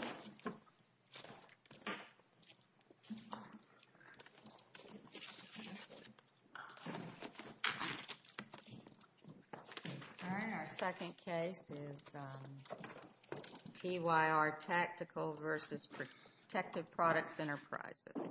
All right, our second case is TYR Tactical v. Protective Products Enterprises.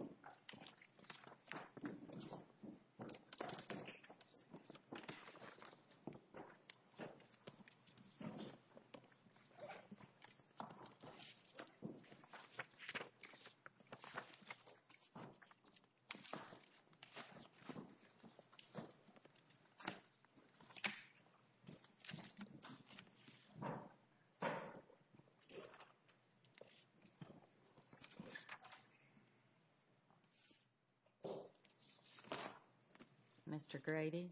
Mr. Grady?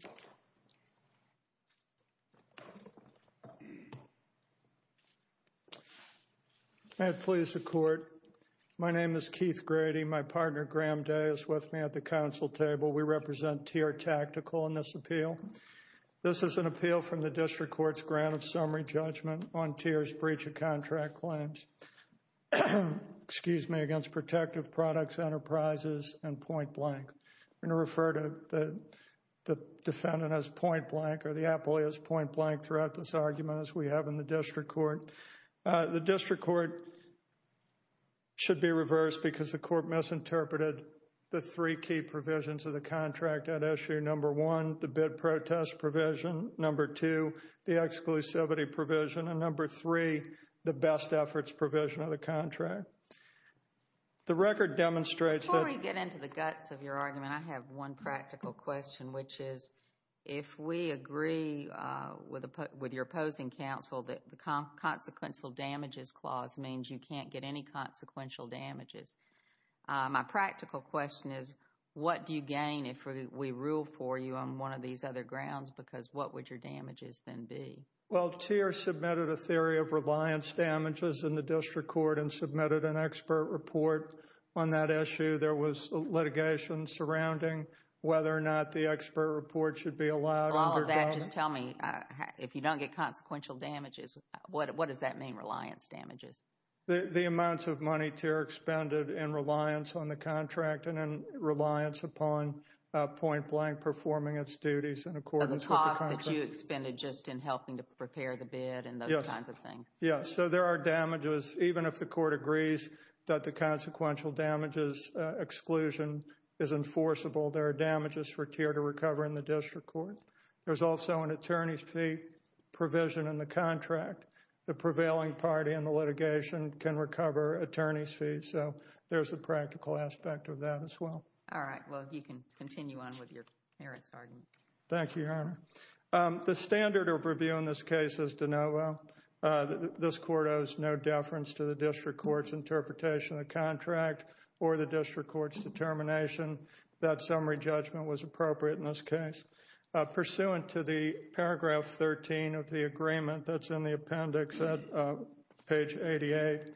May it please the Court. My name is Keith Grady. My partner, Graham Day, is with me at the Council table. We represent TYR Tactical in this appeal. This is an appeal from the District Court's Grant of Summary Judgment on TYR's breach of contract claims against Protective Products Enterprises and Point Blank. I'm going to refer to the defendant as Point Blank or the appellee as Point Blank throughout this argument as we have in the District Court. The District Court should be reversed because the Court misinterpreted the three key provisions of the contract at issue. Number one, the bid protest provision. Number two, the exclusivity provision. And number three, the best efforts provision of the contract. Okay. The record demonstrates that… Before we get into the guts of your argument, I have one practical question, which is, if we agree with your opposing counsel that the consequential damages clause means you can't get any consequential damages, my practical question is, what do you gain if we rule for you on one of these other grounds? Because what would your damages then be? Well, TYR submitted a theory of reliance damages in the District Court and submitted an expert report on that issue. There was litigation surrounding whether or not the expert report should be allowed. All of that, just tell me, if you don't get consequential damages, what does that mean, reliance damages? The amounts of money TYR expended in reliance on the contract and in reliance upon Point Blank performing its duties in accordance with the contract. The amounts that you expended just in helping to prepare the bid and those kinds of things. Yes. So there are damages, even if the court agrees that the consequential damages exclusion is enforceable, there are damages for TYR to recover in the District Court. There's also an attorney's fee provision in the contract. The prevailing party in the litigation can recover attorney's fees. So there's a practical aspect of that as well. All right. Well, you can continue on with your merits arguments. Thank you, Your Honor. The standard of review in this case is de novo. This court owes no deference to the District Court's interpretation of the contract or the District Court's determination that summary judgment was appropriate in this case. Pursuant to the paragraph 13 of the agreement that's in the appendix at page 88,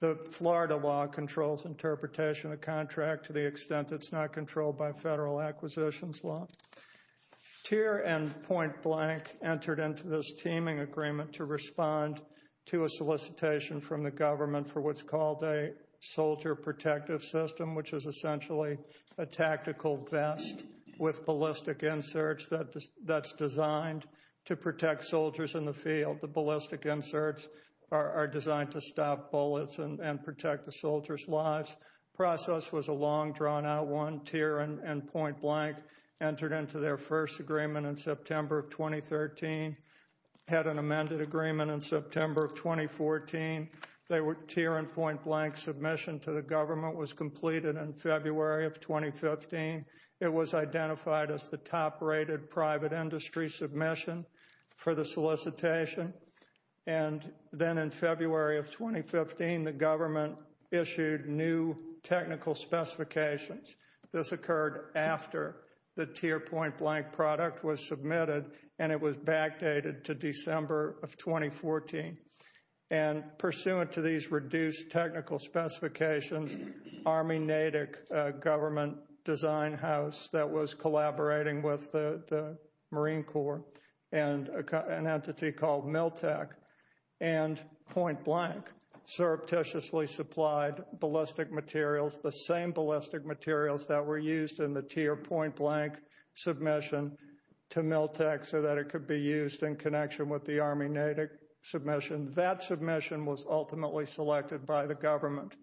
the Florida law controls interpretation of the contract to the extent that it's not controlled by the Federal Acquisitions Law, TYR and Point Blank entered into this teaming agreement to respond to a solicitation from the government for what's called a soldier protective system, which is essentially a tactical vest with ballistic inserts that's designed to protect soldiers in the field. The ballistic inserts are designed to stop bullets and protect the soldiers' lives. The process was a long, drawn-out one. TYR and Point Blank entered into their first agreement in September of 2013, had an amended agreement in September of 2014. The TYR and Point Blank submission to the government was completed in February of 2015. It was identified as the top-rated private industry submission for the solicitation. And then in February of 2015, the government issued new technical specifications. This occurred after the TYR and Point Blank product was submitted, and it was backdated to December of 2014. And pursuant to these reduced technical specifications, Army NATIC government design house that was Miltek and Point Blank surreptitiously supplied ballistic materials, the same ballistic materials that were used in the TYR Point Blank submission to Miltek so that it could be used in connection with the Army NATIC submission. That submission was ultimately selected by the government.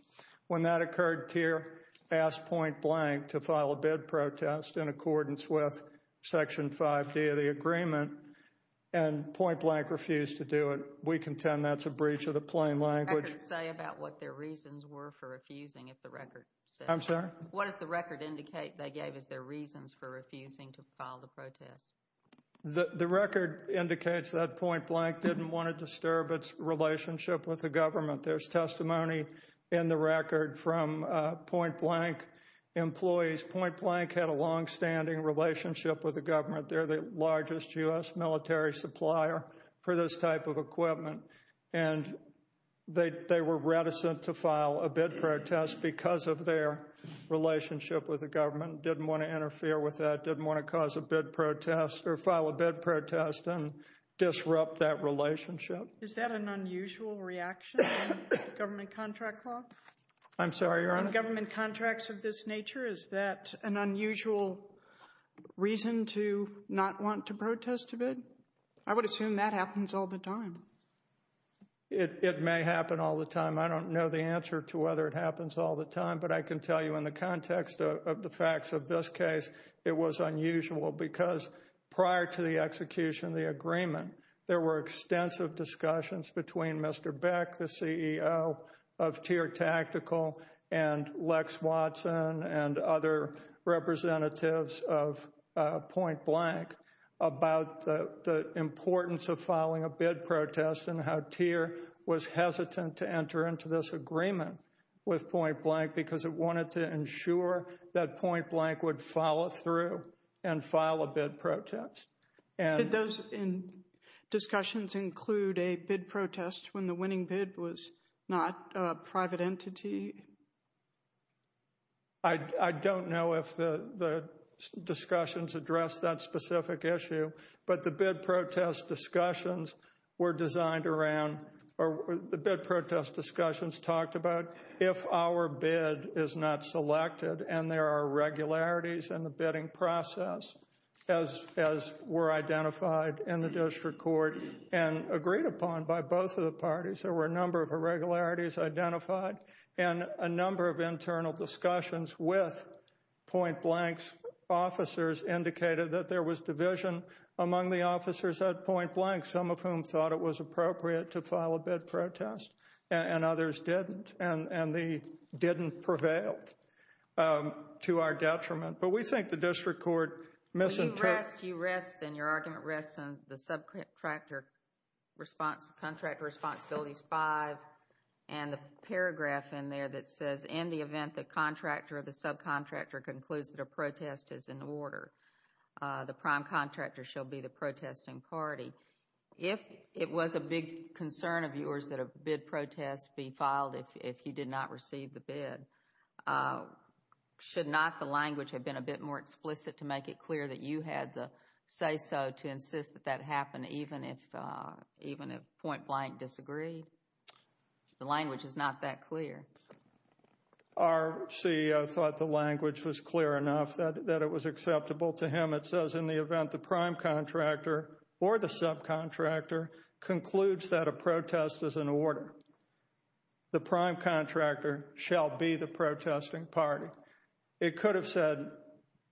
When that occurred, TYR asked Point Blank to file a bid protest in accordance with Section 5D of the agreement, and Point Blank refused to do it. We contend that's a breach of the plain language. What does the record say about what their reasons were for refusing if the record says that? I'm sorry? What does the record indicate they gave as their reasons for refusing to file the protest? The record indicates that Point Blank didn't want to disturb its relationship with the government. There's testimony in the record from Point Blank employees. Point Blank had a long-standing relationship with the government. They're the largest U.S. military supplier for this type of equipment, and they were reticent to file a bid protest because of their relationship with the government, didn't want to interfere with that, didn't want to cause a bid protest or file a bid protest and disrupt that relationship. Is that an unusual reaction in government contract law? I'm sorry, Your Honor? In government contracts of this nature, is that an unusual reason to not want to protest a bid? I would assume that happens all the time. It may happen all the time. I don't know the answer to whether it happens all the time, but I can tell you in the context of the facts of this case, it was unusual because prior to the execution of the agreement, there were extensive discussions between Mr. Beck, the CEO of Tear Tactical, and Lex Watson and other representatives of Point Blank about the importance of filing a bid protest and how Tear was hesitant to enter into this agreement with Point Blank because it wanted to ensure that Point Blank would follow through and file a bid protest. Did those discussions include a bid protest when the winning bid was not a private entity? I don't know if the discussions addressed that specific issue, but the bid protest discussions were designed around, or the bid protest discussions talked about if our bid is not selected and there are irregularities in the bidding process, as were identified in the district court and agreed upon by both of the parties, there were a number of irregularities identified and a number of internal discussions with Point Blank's officers indicated that there was division among the officers at Point Blank, some of whom thought it was appropriate to our detriment. But we think the district court misinterpreted... You rest, and your argument rests on the subcontractor responsibilities 5 and the paragraph in there that says, in the event the contractor or the subcontractor concludes that a protest is in order, the prime contractor shall be the protesting party. If it was a big concern of yours that a bid protest be filed if you did not receive the Should not the language have been a bit more explicit to make it clear that you had the say-so to insist that that happened even if Point Blank disagreed? The language is not that clear. Our CEO thought the language was clear enough that it was acceptable to him. It says, in the event the prime contractor or the subcontractor concludes that a protest is in order, the prime contractor shall be the protesting party. It could have said,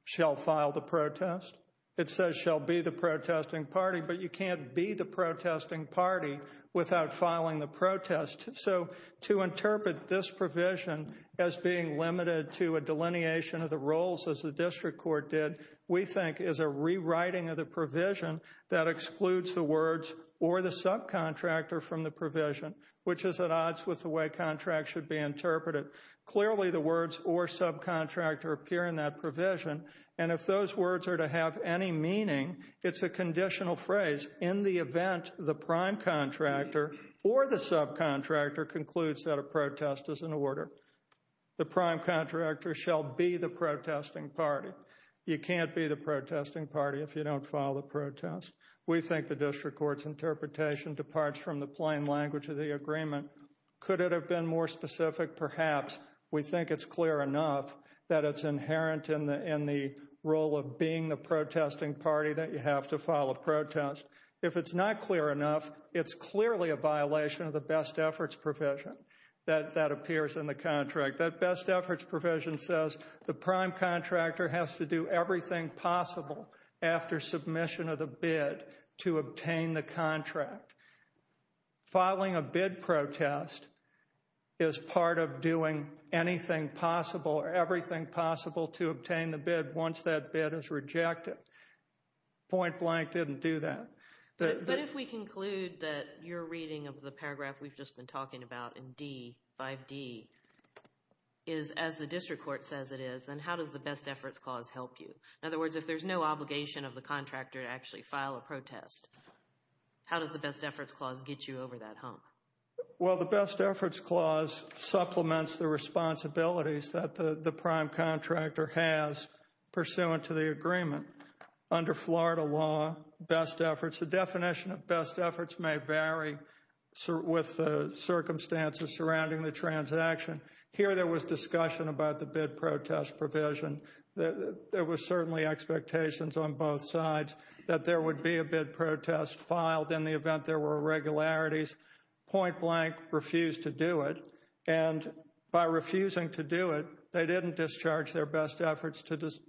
shall file the protest. It says, shall be the protesting party, but you can't be the protesting party without filing the protest. So to interpret this provision as being limited to a delineation of the roles as the district court did, we think is a rewriting of the provision that excludes the words or the subcontractor from the provision, which is at odds with the way contracts should be interpreted. Clearly the words or subcontractor appear in that provision, and if those words are to have any meaning, it's a conditional phrase. In the event the prime contractor or the subcontractor concludes that a protest is in order, the prime contractor shall be the protesting party. You can't be the protesting party if you don't file the protest. We think the district court's interpretation departs from the plain language of the agreement. Could it have been more specific? Perhaps. We think it's clear enough that it's inherent in the role of being the protesting party that you have to file a protest. If it's not clear enough, it's clearly a violation of the best efforts provision that appears in the contract. That best efforts provision says the prime contractor has to do everything possible after submission of the bid to obtain the contract. Filing a bid protest is part of doing anything possible or everything possible to obtain the bid once that bid is rejected. Point Blank didn't do that. But if we conclude that you're reading of the paragraph we've just been talking about in D, 5D, is as the district court says it is, then how does the best efforts clause help you? In other words, if there's no obligation of the contractor to actually file a protest, how does the best efforts clause get you over that hump? Well, the best efforts clause supplements the responsibilities that the prime contractor has pursuant to the agreement. Under Florida law, best efforts, the definition of best efforts may vary with the circumstances surrounding the transaction. Here there was discussion about the bid protest provision. There were certainly expectations on both sides that there would be a bid protest filed in the event there were irregularities. Point Blank refused to do it. And by refusing to do it, they didn't discharge their best efforts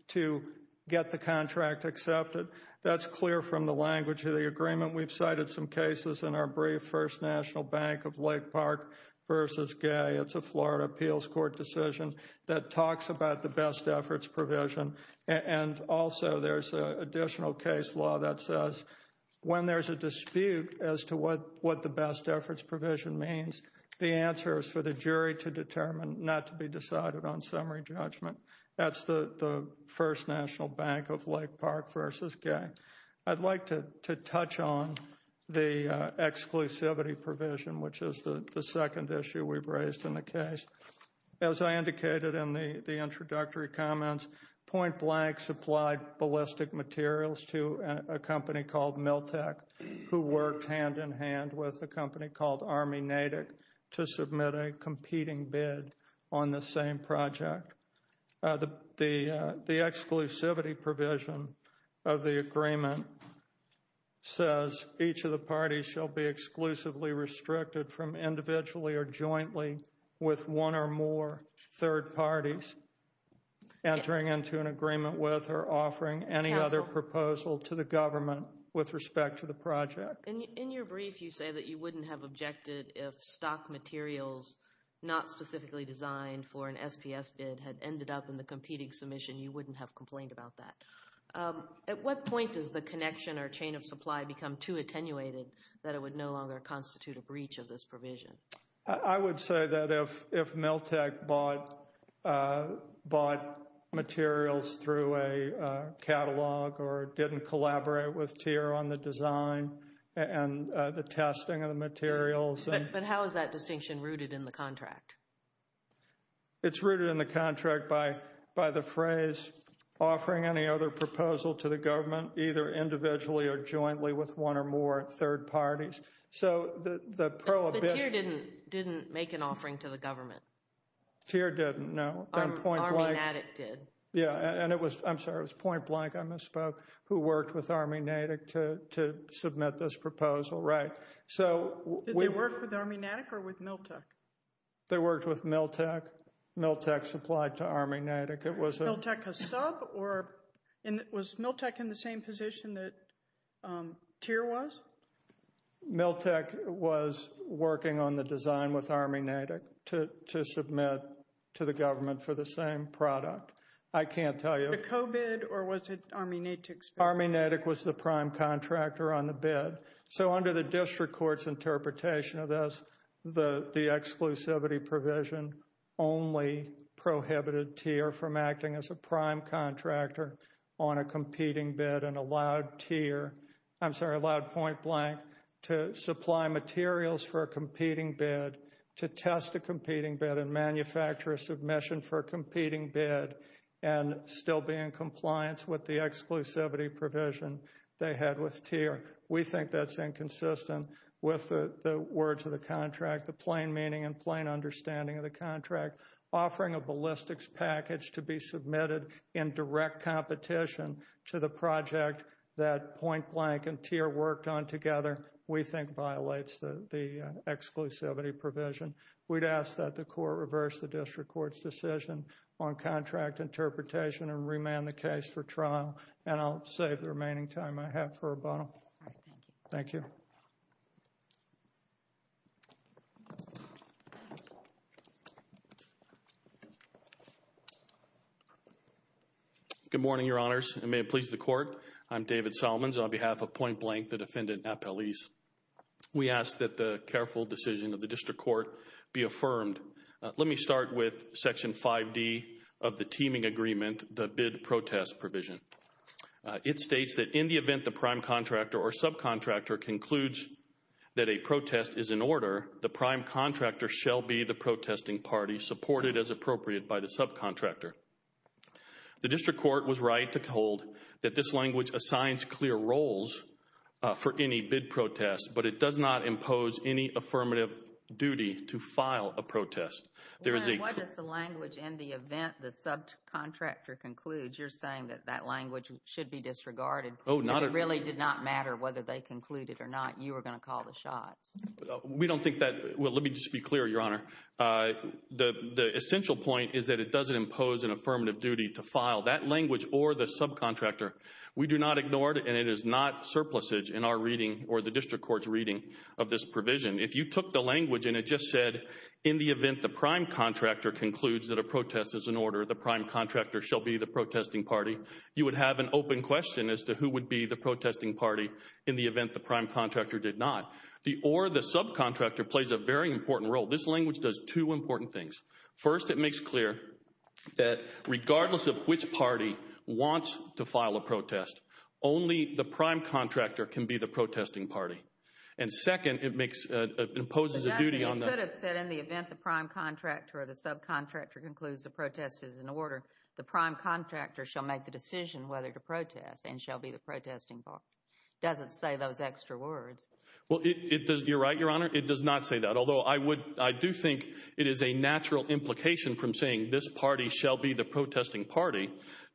to get the contract accepted. That's clear from the language of the agreement. We've cited some cases in our brief, First National Bank of Lake Park versus Gay. It's a Florida appeals court decision that talks about the best efforts provision. And also there's an additional case law that says when there's a dispute as to what the best efforts provision means, the answer is for the jury to determine, not to be decided on summary judgment. That's the First National Bank of Lake Park versus Gay. I'd like to touch on the exclusivity provision, which is the second issue we've raised in the case. As I indicated in the introductory comments, Point Blank supplied ballistic materials to a company called Miltek, who worked hand-in-hand with a company called Army Natick to submit a competing bid on the same project. The exclusivity provision of the agreement says each of the parties shall be exclusively restricted from individually or jointly with one or more third parties entering into an agreement with or offering any other proposal to the government with respect to the project. In your brief, you say that you wouldn't have objected if stock materials not specifically designed for an SPS bid had ended up in the competing submission. You wouldn't have complained about that. At what point does the connection or chain of supply become too attenuated that it would no longer constitute a breach of this provision? I would say that if Miltek bought materials through a catalog or didn't collaborate with TIER on the design and the testing of the materials. But how is that distinction rooted in the contract? It's rooted in the contract by the phrase, offering any other proposal to the government, either individually or jointly with one or more third parties. So the prohibition... But TIER didn't make an offering to the government. TIER didn't, no. Army Natick did. Yeah. And it was, I'm sorry, it was Point Blank, I misspoke, who worked with Army Natick to submit this proposal, right. So we... Did they work with Army Natick or with Miltek? They worked with Miltek. Miltek supplied to Army Natick. Miltek a sub or... Was Miltek in the same position that TIER was? Miltek was working on the design with Army Natick to submit to the government for the same product. I can't tell you. Was it a co-bid or was it Army Natick's bid? Army Natick was the prime contractor on the bid. So under the district court's interpretation of this, the exclusivity provision only prohibited TIER from acting as a prime contractor on a competing bid and allowed TIER... I'm sorry, allowed Point Blank to supply materials for a competing bid, to test a competing bid and manufacture a submission for a competing bid and still be in compliance with the exclusivity provision they had with TIER. We think that's inconsistent with the words of the contract, the plain meaning and plain understanding of the contract. Offering a ballistics package to be submitted in direct competition to the project that Point Blank and TIER worked on together, we think violates the exclusivity provision. We'd ask that the court reverse the district court's decision on contract interpretation and remand the case for trial. And I'll save the remaining time I have for a bundle. Thank you. Good morning, Your Honors, and may it please the court, I'm David Solomons on behalf of Point Blank, the defendant, Appelese. We ask that the careful decision of the district court be affirmed. Let me start with Section 5D of the teaming agreement, the bid protest provision. It states that in the event the prime contractor or subcontractor concludes that a protest is in order, the prime contractor shall be the protesting party supported as appropriate by the subcontractor. The district court was right to hold that this language assigns clear roles for any bid protest, but it does not impose any affirmative duty to file a protest. What does the language in the event the subcontractor concludes? You're saying that that language should be disregarded because it really did not matter whether they concluded or not you were going to call the shots. We don't think that. Well, let me just be clear, Your Honor, the essential point is that it doesn't impose an affirmative duty to file that language or the subcontractor. We do not ignore it, and it is not surplusage in our reading or the district court's reading of this provision. If you took the language and it just said, in the event the prime contractor concludes that a protest is in order, the prime contractor shall be the protesting party, you would have an open question as to who would be the protesting party in the event the prime contractor did not. The or the subcontractor plays a very important role. This language does two important things. First, it makes clear that regardless of which party wants to file a protest, only the prime contractor can be the protesting party. And second, it makes, it imposes a duty on them. It could have said, in the event the prime contractor or the subcontractor concludes the protest is in order, the prime contractor shall make the decision whether to protest and shall be the protesting party. It doesn't say those extra words. Well, it does, you're right, Your Honor, it does not say that. Although I would, I do think it is a natural implication from saying this party shall be the protesting party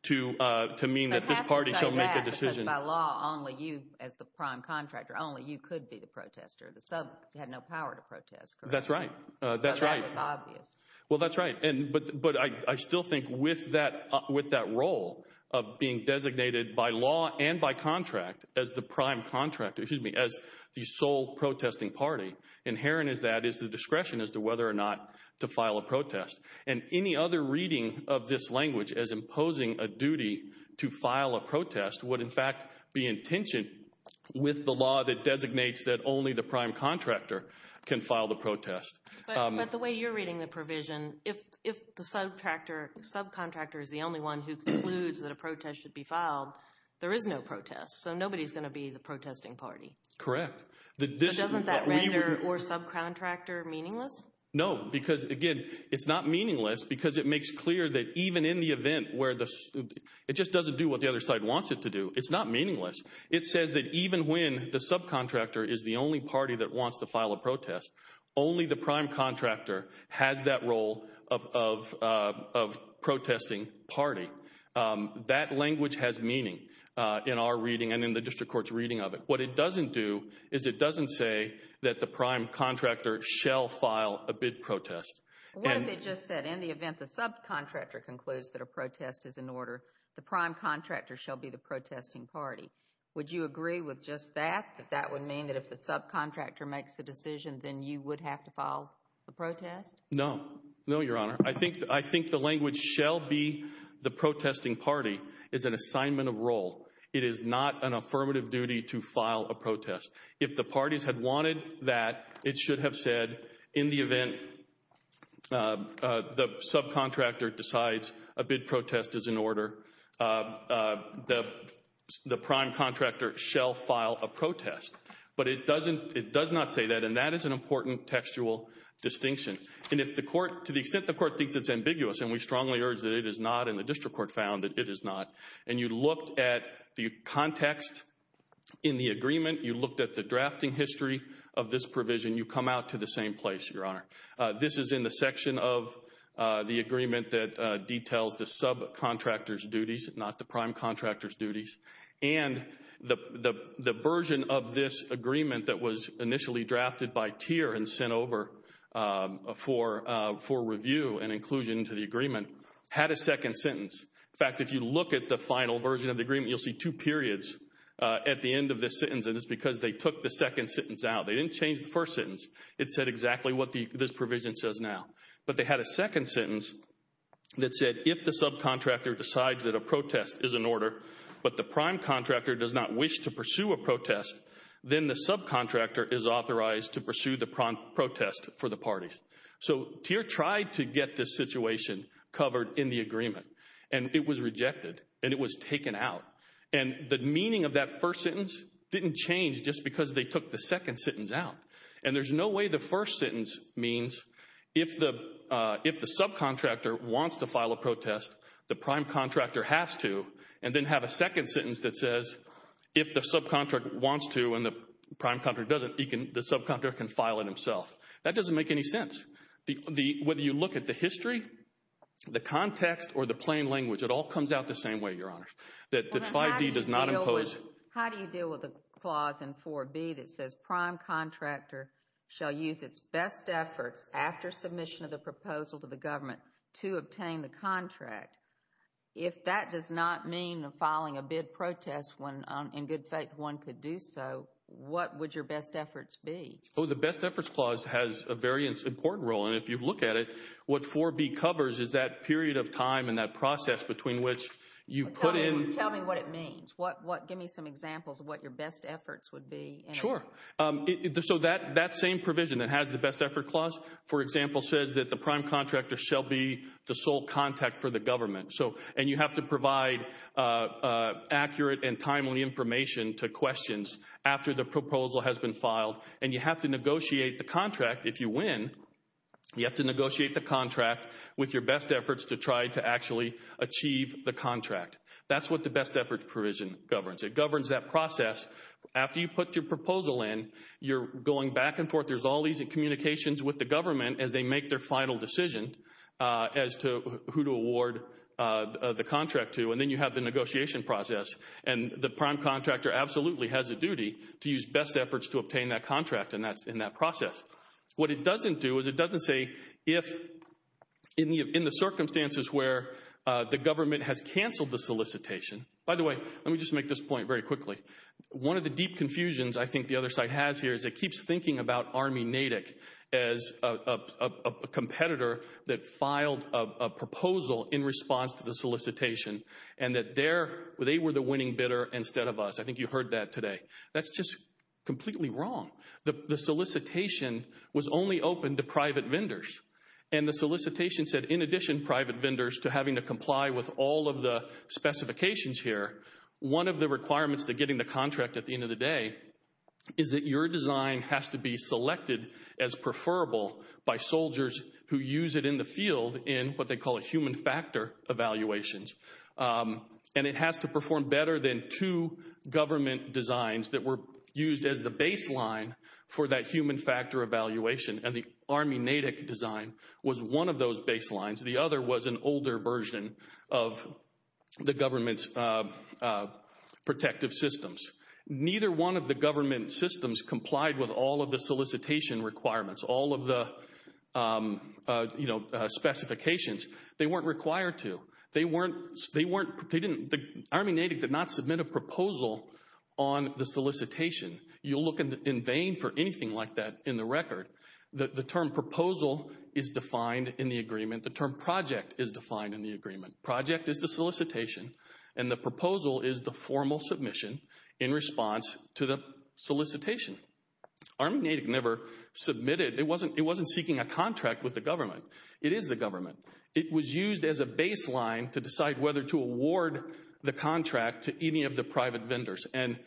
to mean that this party shall make a decision. But it has to say that because by law, only you as the prime contractor, only you could be the protester. The sub had no power to protest, correct? That's right. That's right. So that is obvious. Well, that's right. And, but, but I still think with that, with that role of being designated by law and by contract as the prime contractor, excuse me, as the sole protesting party, inherent is that is the discretion as to whether or not to file a protest. And any other reading of this language as imposing a duty to file a protest would in fact be in tension with the law that designates that only the prime contractor can file the protest. But the way you're reading the provision, if, if the subcontractor, subcontractor is the only one who concludes that a protest should be filed, there is no protest. So nobody's going to be the protesting party. Correct. So doesn't that render or subcontractor meaningless? No, because again, it's not meaningless because it makes clear that even in the event where the, it just doesn't do what the other side wants it to do. It's not meaningless. It says that even when the subcontractor is the only party that wants to file a protest, only the prime contractor has that role of, of, of protesting party. That language has meaning in our reading and in the district court's reading of it. What it doesn't do is it doesn't say that the prime contractor shall file a bid protest. What if it just said in the event the subcontractor concludes that a protest is in order, the prime contractor shall be the protesting party. Would you agree with just that? That that would mean that if the subcontractor makes a decision, then you would have to file the protest? No. No, your honor. I think, I think the language shall be the protesting party is an assignment of role. It is not an affirmative duty to file a protest. If the parties had wanted that, it should have said in the event the subcontractor decides a bid protest is in order, the prime contractor shall file a protest. But it doesn't, it does not say that, and that is an important textual distinction. And if the court, to the extent the court thinks it's ambiguous, and we strongly urge that it is not, and the district court found that it is not, and you looked at the context in the agreement, you looked at the drafting history of this provision, you come out to the same place, your honor. This is in the section of the agreement that details the subcontractor's duties, not the prime contractor's duties, and the version of this agreement that was initially drafted by Teer and sent over for review and inclusion to the agreement had a second sentence. In fact, if you look at the final version of the agreement, you'll see two periods at the end of this sentence, and it's because they took the second sentence out. They didn't change the first sentence. It said exactly what this provision says now. But they had a second sentence that said if the subcontractor decides that a protest is in order, but the prime contractor does not wish to pursue a protest, then the subcontractor is authorized to pursue the protest for the parties. So Teer tried to get this situation covered in the agreement, and it was rejected, and it was taken out. And the meaning of that first sentence didn't change just because they took the second sentence out. And there's no way the first sentence means if the subcontractor wants to file a protest, the prime contractor has to, and then have a second sentence that says if the subcontractor wants to and the prime contractor doesn't, the subcontractor can file it himself. That doesn't make any sense. Whether you look at the history, the context, or the plain language, it all comes out the same way, Your Honor. That 5B does not impose— If the subcontractor shall use its best efforts after submission of the proposal to the government to obtain the contract, if that does not mean filing a bid protest when, in good faith, one could do so, what would your best efforts be? The Best Efforts Clause has a very important role, and if you look at it, what 4B covers is that period of time and that process between which you put in— Tell me what it means. Give me some examples of what your best efforts would be. Sure. So that same provision that has the Best Efforts Clause, for example, says that the prime contractor shall be the sole contact for the government, and you have to provide accurate and timely information to questions after the proposal has been filed, and you have to negotiate the contract if you win, you have to negotiate the contract with your best efforts to try to actually achieve the contract. That's what the Best Efforts Provision governs. It governs that process. After you put your proposal in, you're going back and forth, there's all these communications with the government as they make their final decision as to who to award the contract to, and then you have the negotiation process, and the prime contractor absolutely has a duty to use best efforts to obtain that contract, and that's in that process. What it doesn't do is it doesn't say if, in the circumstances where the government has canceled the solicitation, by the way, let me just make this point very quickly. One of the deep confusions I think the other side has here is it keeps thinking about Army Natick as a competitor that filed a proposal in response to the solicitation, and that they were the winning bidder instead of us. I think you heard that today. That's just completely wrong. The solicitation was only open to private vendors, and the solicitation said in addition to being private vendors to having to comply with all of the specifications here, one of the requirements to getting the contract at the end of the day is that your design has to be selected as preferable by soldiers who use it in the field in what they call a human factor evaluations, and it has to perform better than two government designs that were used as the baseline for that human factor evaluation, and the Army Natick design was one of those baselines. The other was an older version of the government's protective systems. Neither one of the government systems complied with all of the solicitation requirements, all of the specifications. They weren't required to. They weren't, they didn't, Army Natick did not submit a proposal on the solicitation. You'll look in vain for anything like that in the record. The term proposal is defined in the agreement. The term project is defined in the agreement. Project is the solicitation, and the proposal is the formal submission in response to the solicitation. Army Natick never submitted, it wasn't seeking a contract with the government. It is the government. It was used as a baseline to decide whether to award the contract to any of the private vendors, and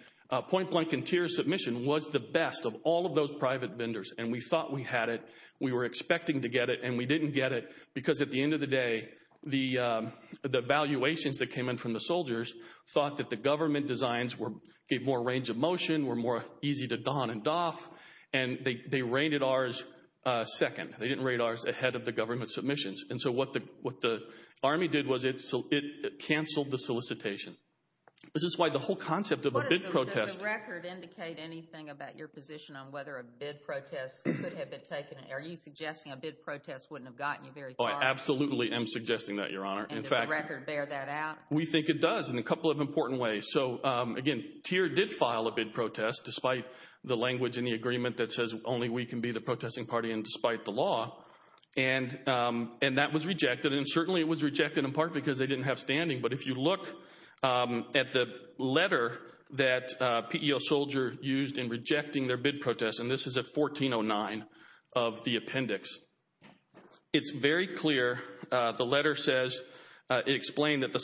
Point Blank Interior's submission was the best of all of those private vendors, and we thought we had it. We were expecting to get it, and we didn't get it, because at the end of the day, the valuations that came in from the soldiers thought that the government designs gave more range of motion, were more easy to don and doff, and they rated ours second. They didn't rate ours ahead of the government submissions, and so what the Army did was it canceled the solicitation. This is why the whole concept of a bid protest... Are you suggesting a bid protest wouldn't have gotten you very far? Oh, I absolutely am suggesting that, Your Honor. And does the record bear that out? We think it does in a couple of important ways, so again, TIER did file a bid protest despite the language in the agreement that says only we can be the protesting party and despite the law, and that was rejected, and certainly it was rejected in part because they didn't have standing, but if you look at the letter that PEO soldier used in rejecting their bid protest, and this is at 1409 of the appendix, it's very clear. The letter says... It explained that the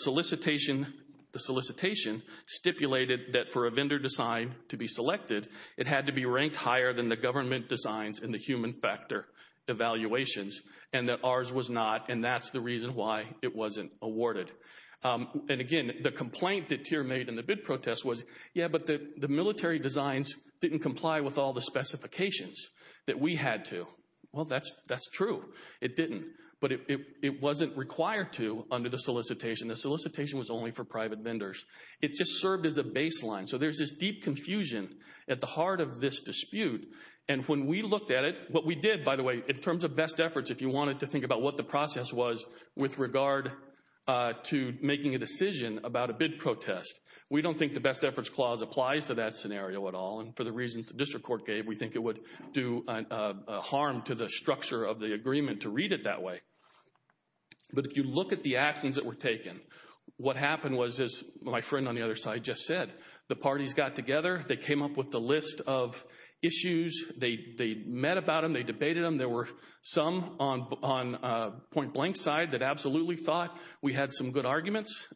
solicitation stipulated that for a vendor design to be selected, it had to be ranked higher than the government designs in the human factor evaluations, and that ours was not, and that's the reason why it wasn't awarded, and again, the complaint that TIER made in the bid protest was, yeah, but the military designs didn't comply with all the specifications that we had to. Well, that's true. It didn't, but it wasn't required to under the solicitation. The solicitation was only for private vendors. It just served as a baseline, so there's this deep confusion at the heart of this dispute, and when we looked at it, what we did, by the way, in terms of best efforts, if you wanted to think about what the process was with regard to making a decision about a bid protest, we don't think the best efforts clause applies to that scenario at all, and for the reasons the district court gave, we think it would do harm to the structure of the agreement to read it that way, but if you look at the actions that were taken, what happened was, as my friend on the other side just said, the parties got together, they came up with the list of issues, they met about them, they debated them, there were some on point-blank side that absolutely thought we had some good arguments.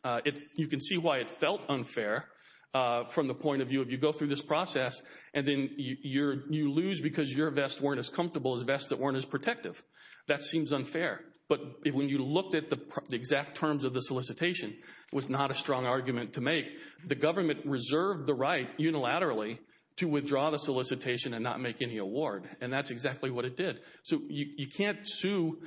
You can see why it felt unfair from the point of view, if you go through this process and then you lose because your vests weren't as comfortable as vests that weren't as protective. That seems unfair, but when you looked at the exact terms of the solicitation, it was not a strong argument to make. The government reserved the right, unilaterally, to withdraw the solicitation and not make any award, and that's exactly what it did. You can't sue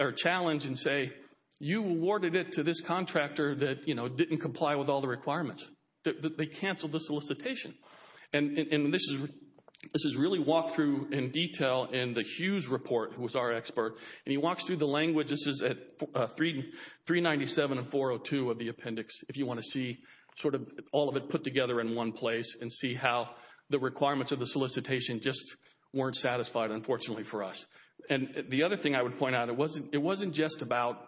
or challenge and say, you awarded it to this contractor that didn't comply with all the requirements. They canceled the solicitation, and this is really walked through in detail in the Hughes report, who was our expert, and he walks through the language. This is at 397 and 402 of the appendix, if you want to see all of it put together in one place and see how the requirements of the solicitation just weren't satisfied, unfortunately, for us. And the other thing I would point out, it wasn't just about,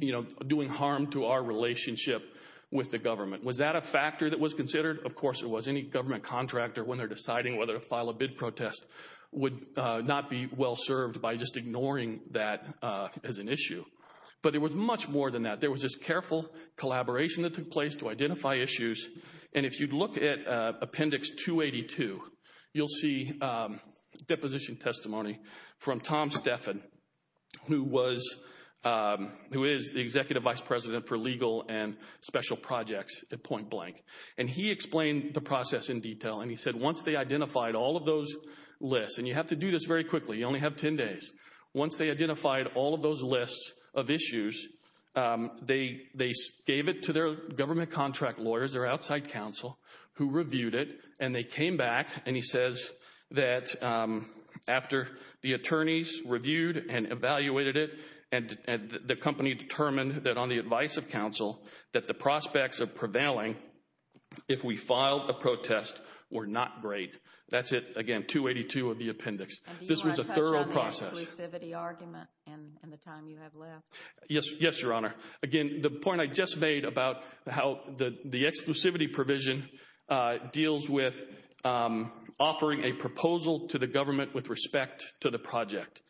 you know, doing harm to our relationship with the government. Was that a factor that was considered? Of course it was. Any government contractor, when they're deciding whether to file a bid protest, would not be well served by just ignoring that as an issue. But it was much more than that. There was this careful collaboration that took place to identify issues, and if you look at Appendix 282, you'll see deposition testimony from Tom Stephan, who is the Executive Vice President for Legal and Special Projects at Point Blank. And he explained the process in detail, and he said once they identified all of those lists, and you have to do this very quickly, you only have 10 days. Once they identified all of those lists of issues, they gave it to their government contract lawyers, their outside counsel, who reviewed it, and they came back, and he says that after the attorneys reviewed and evaluated it, and the company determined that on the advice of counsel, that the prospects of prevailing, if we filed a protest, were not great. That's it, again, 282 of the appendix. This was a thorough process. And do you want to touch on the exclusivity argument and the time you have left? Yes, Your Honor. Again, the point I just made about how the exclusivity provision deals with offering a proposal to the government with respect to the project.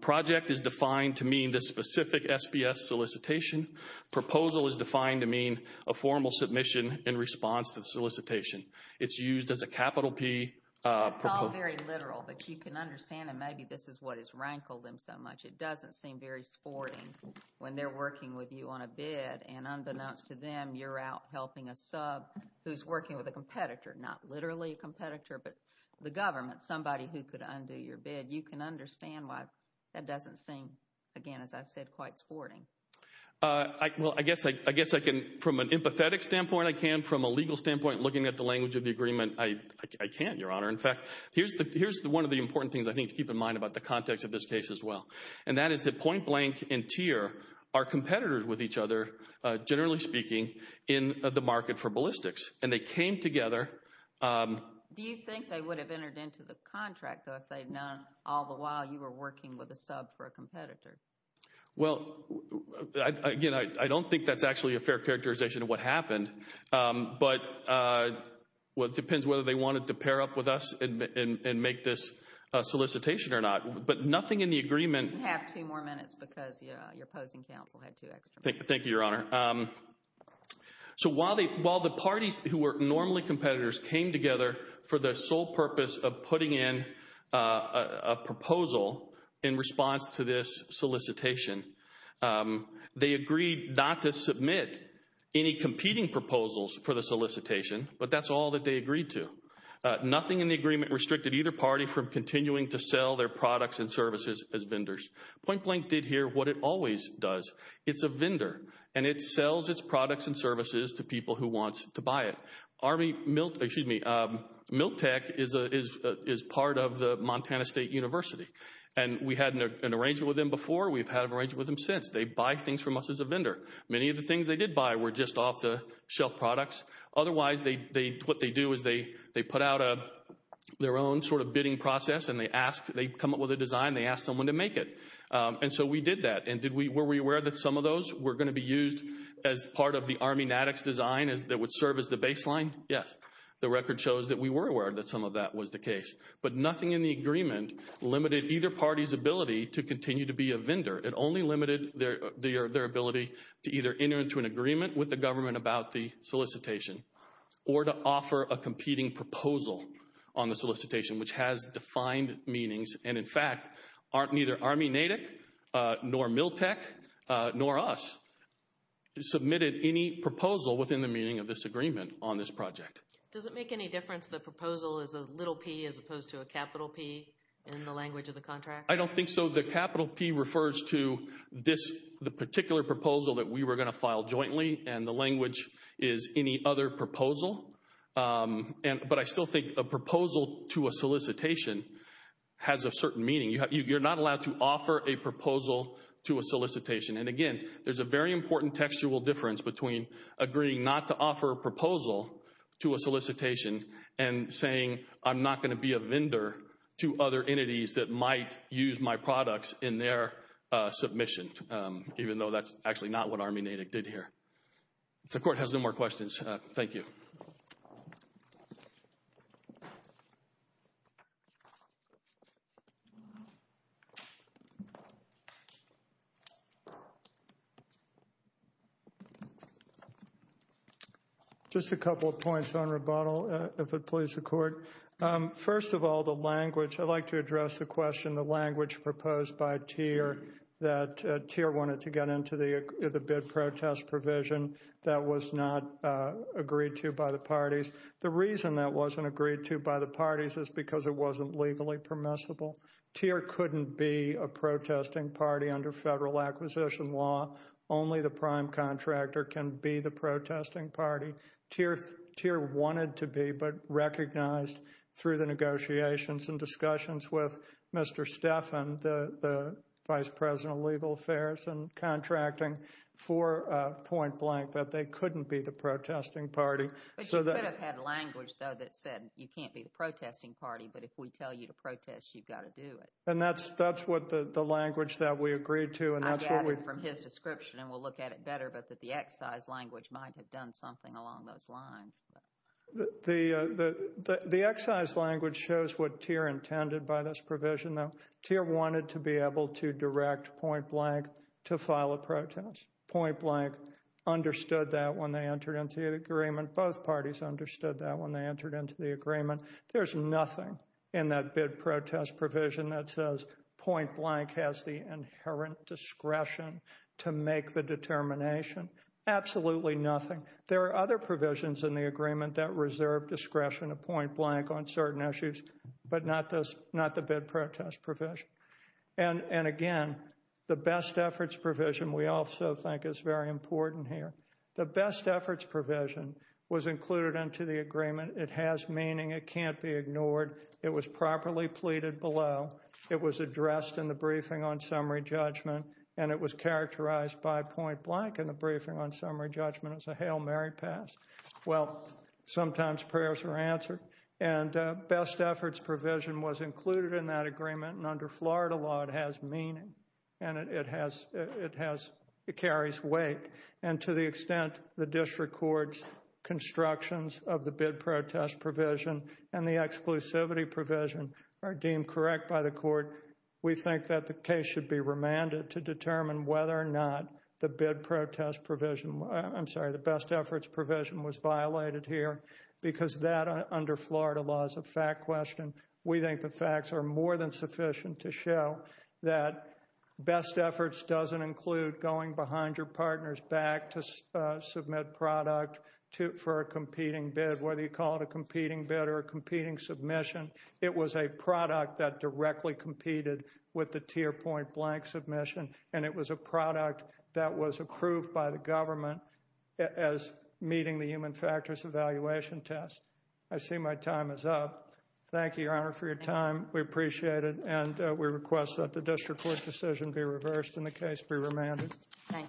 Project is defined to mean the specific SPS solicitation. Proposal is defined to mean a formal submission in response to the solicitation. It's used as a capital P. It's all very literal, but you can understand that maybe this is what has rankled them so much. It doesn't seem very sporting when they're working with you on a bid, and unbeknownst to them, you're out helping a sub who's working with a competitor. Not literally a competitor, but the government, somebody who could undo your bid. You can understand why that doesn't seem, again, as I said, quite sporting. Well, I guess I can, from an empathetic standpoint, I can. From a legal standpoint, looking at the language of the agreement, I can, Your Honor. In fact, here's one of the important things I think to keep in mind about the context of this case as well. And that is that Point Blank and Tear are competitors with each other, generally speaking, in the market for ballistics. And they came together. Do you think they would have entered into the contract, though, if they had not all the while you were working with a sub for a competitor? Well, again, I don't think that's actually a fair characterization of what happened. But it depends whether they wanted to pair up with us and make this solicitation or not. But nothing in the agreement... You have two more minutes because your opposing counsel had two extra minutes. Thank you, Your Honor. So while the parties who were normally competitors came together for the sole purpose of putting in a proposal in response to this solicitation, they agreed not to submit any competing proposals for the solicitation. But that's all that they agreed to. Nothing in the agreement restricted either party from continuing to sell their products and services as vendors. Point Blank did here what it always does. It's a vendor. And it sells its products and services to people who want to buy it. Army... Excuse me. Miltec is part of the Montana State University. And we had an arrangement with them before. We've had an arrangement with them since. They buy things from us as a vendor. Many of the things they did buy were just off-the-shelf products. Otherwise, what they do is they put out their own sort of bidding process and they come up with a design and they ask someone to make it. And so we did that. And were we aware that some of those were going to be used as part of the Army NADx design that would serve as the baseline? Yes. The record shows that we were aware that some of that was the case. But nothing in the agreement limited either party's ability to continue to be a vendor. It only limited their ability to either enter into an agreement with the government about the solicitation or to offer a competing proposal on the solicitation, which has defined meanings. And in fact, neither Army NADx nor Miltec nor us submitted any proposal within the meaning of this agreement on this project. Does it make any difference the proposal is a little P as opposed to a capital P in the language of the contract? I don't think so. The capital P refers to this, the particular proposal that we were going to file jointly and the language is any other proposal. But I still think a proposal to a solicitation has a certain meaning. You're not allowed to offer a proposal to a solicitation. And again, there's a very important textual difference between agreeing not to offer a proposal to a solicitation and saying I'm not going to be a vendor to other entities that might use my products in their submission, even though that's actually not what Army NADx did here. If the Court has no more questions, thank you. Just a couple of points on rebuttal, if it pleases the Court. First of all, the language, I'd like to address the question, the language proposed by Teer that Teer wanted to get into the bid protest provision that was not agreed to by the parties. The reason that wasn't agreed to by the parties is because it wasn't legally permissible. Teer couldn't be a protesting party under federal acquisition law. Only the prime contractor can be the protesting party. Teer wanted to be, but recognized through the negotiations and discussions with Mr. Stephan, the Vice President of Legal Affairs and Contracting, for a point blank that they couldn't be the protesting party. But you could have had language, though, that said you can't be the protesting party, but if we tell you to protest, you've got to do it. And that's what the language that we agreed to, and that's what we... I got it from his description, and we'll look at it better, but that the excise language might have done something along those lines. The excise language shows what Teer intended by this provision, though. Teer wanted to be able to direct point blank to file a protest. Point blank understood that when they entered into the agreement. Both parties understood that when they entered into the agreement. There's nothing in that bid protest provision that says point blank has the inherent discretion to make the determination. Absolutely nothing. There are other provisions in the agreement that reserve discretion of point blank on certain issues, but not the bid protest provision. And again, the best efforts provision we also think is very important here. The best efforts provision was included into the agreement. It has meaning. It can't be ignored. It was properly pleaded below. It was addressed in the briefing on summary judgment, and it was characterized by point blank. Hail Mary passed. Well, sometimes prayers are answered, and best efforts provision was included in that agreement, and under Florida law, it has meaning, and it carries weight, and to the extent the district court's constructions of the bid protest provision and the exclusivity provision are deemed correct by the court, we think that the case should be remanded to determine whether or not the bid protest provision, I'm sorry, the best efforts provision was violated here, because that under Florida law is a fact question. We think the facts are more than sufficient to show that best efforts doesn't include going behind your partner's back to submit product for a competing bid, whether you call it a competing bid or a competing submission. It was a product that directly competed with the tier point blank submission, and it was a product that was approved by the government as meeting the human factors evaluation test. I see my time is up. Thank you, Your Honor, for your time. We appreciate it, and we request that the district court's decision be reversed and the case be remanded. Thank you.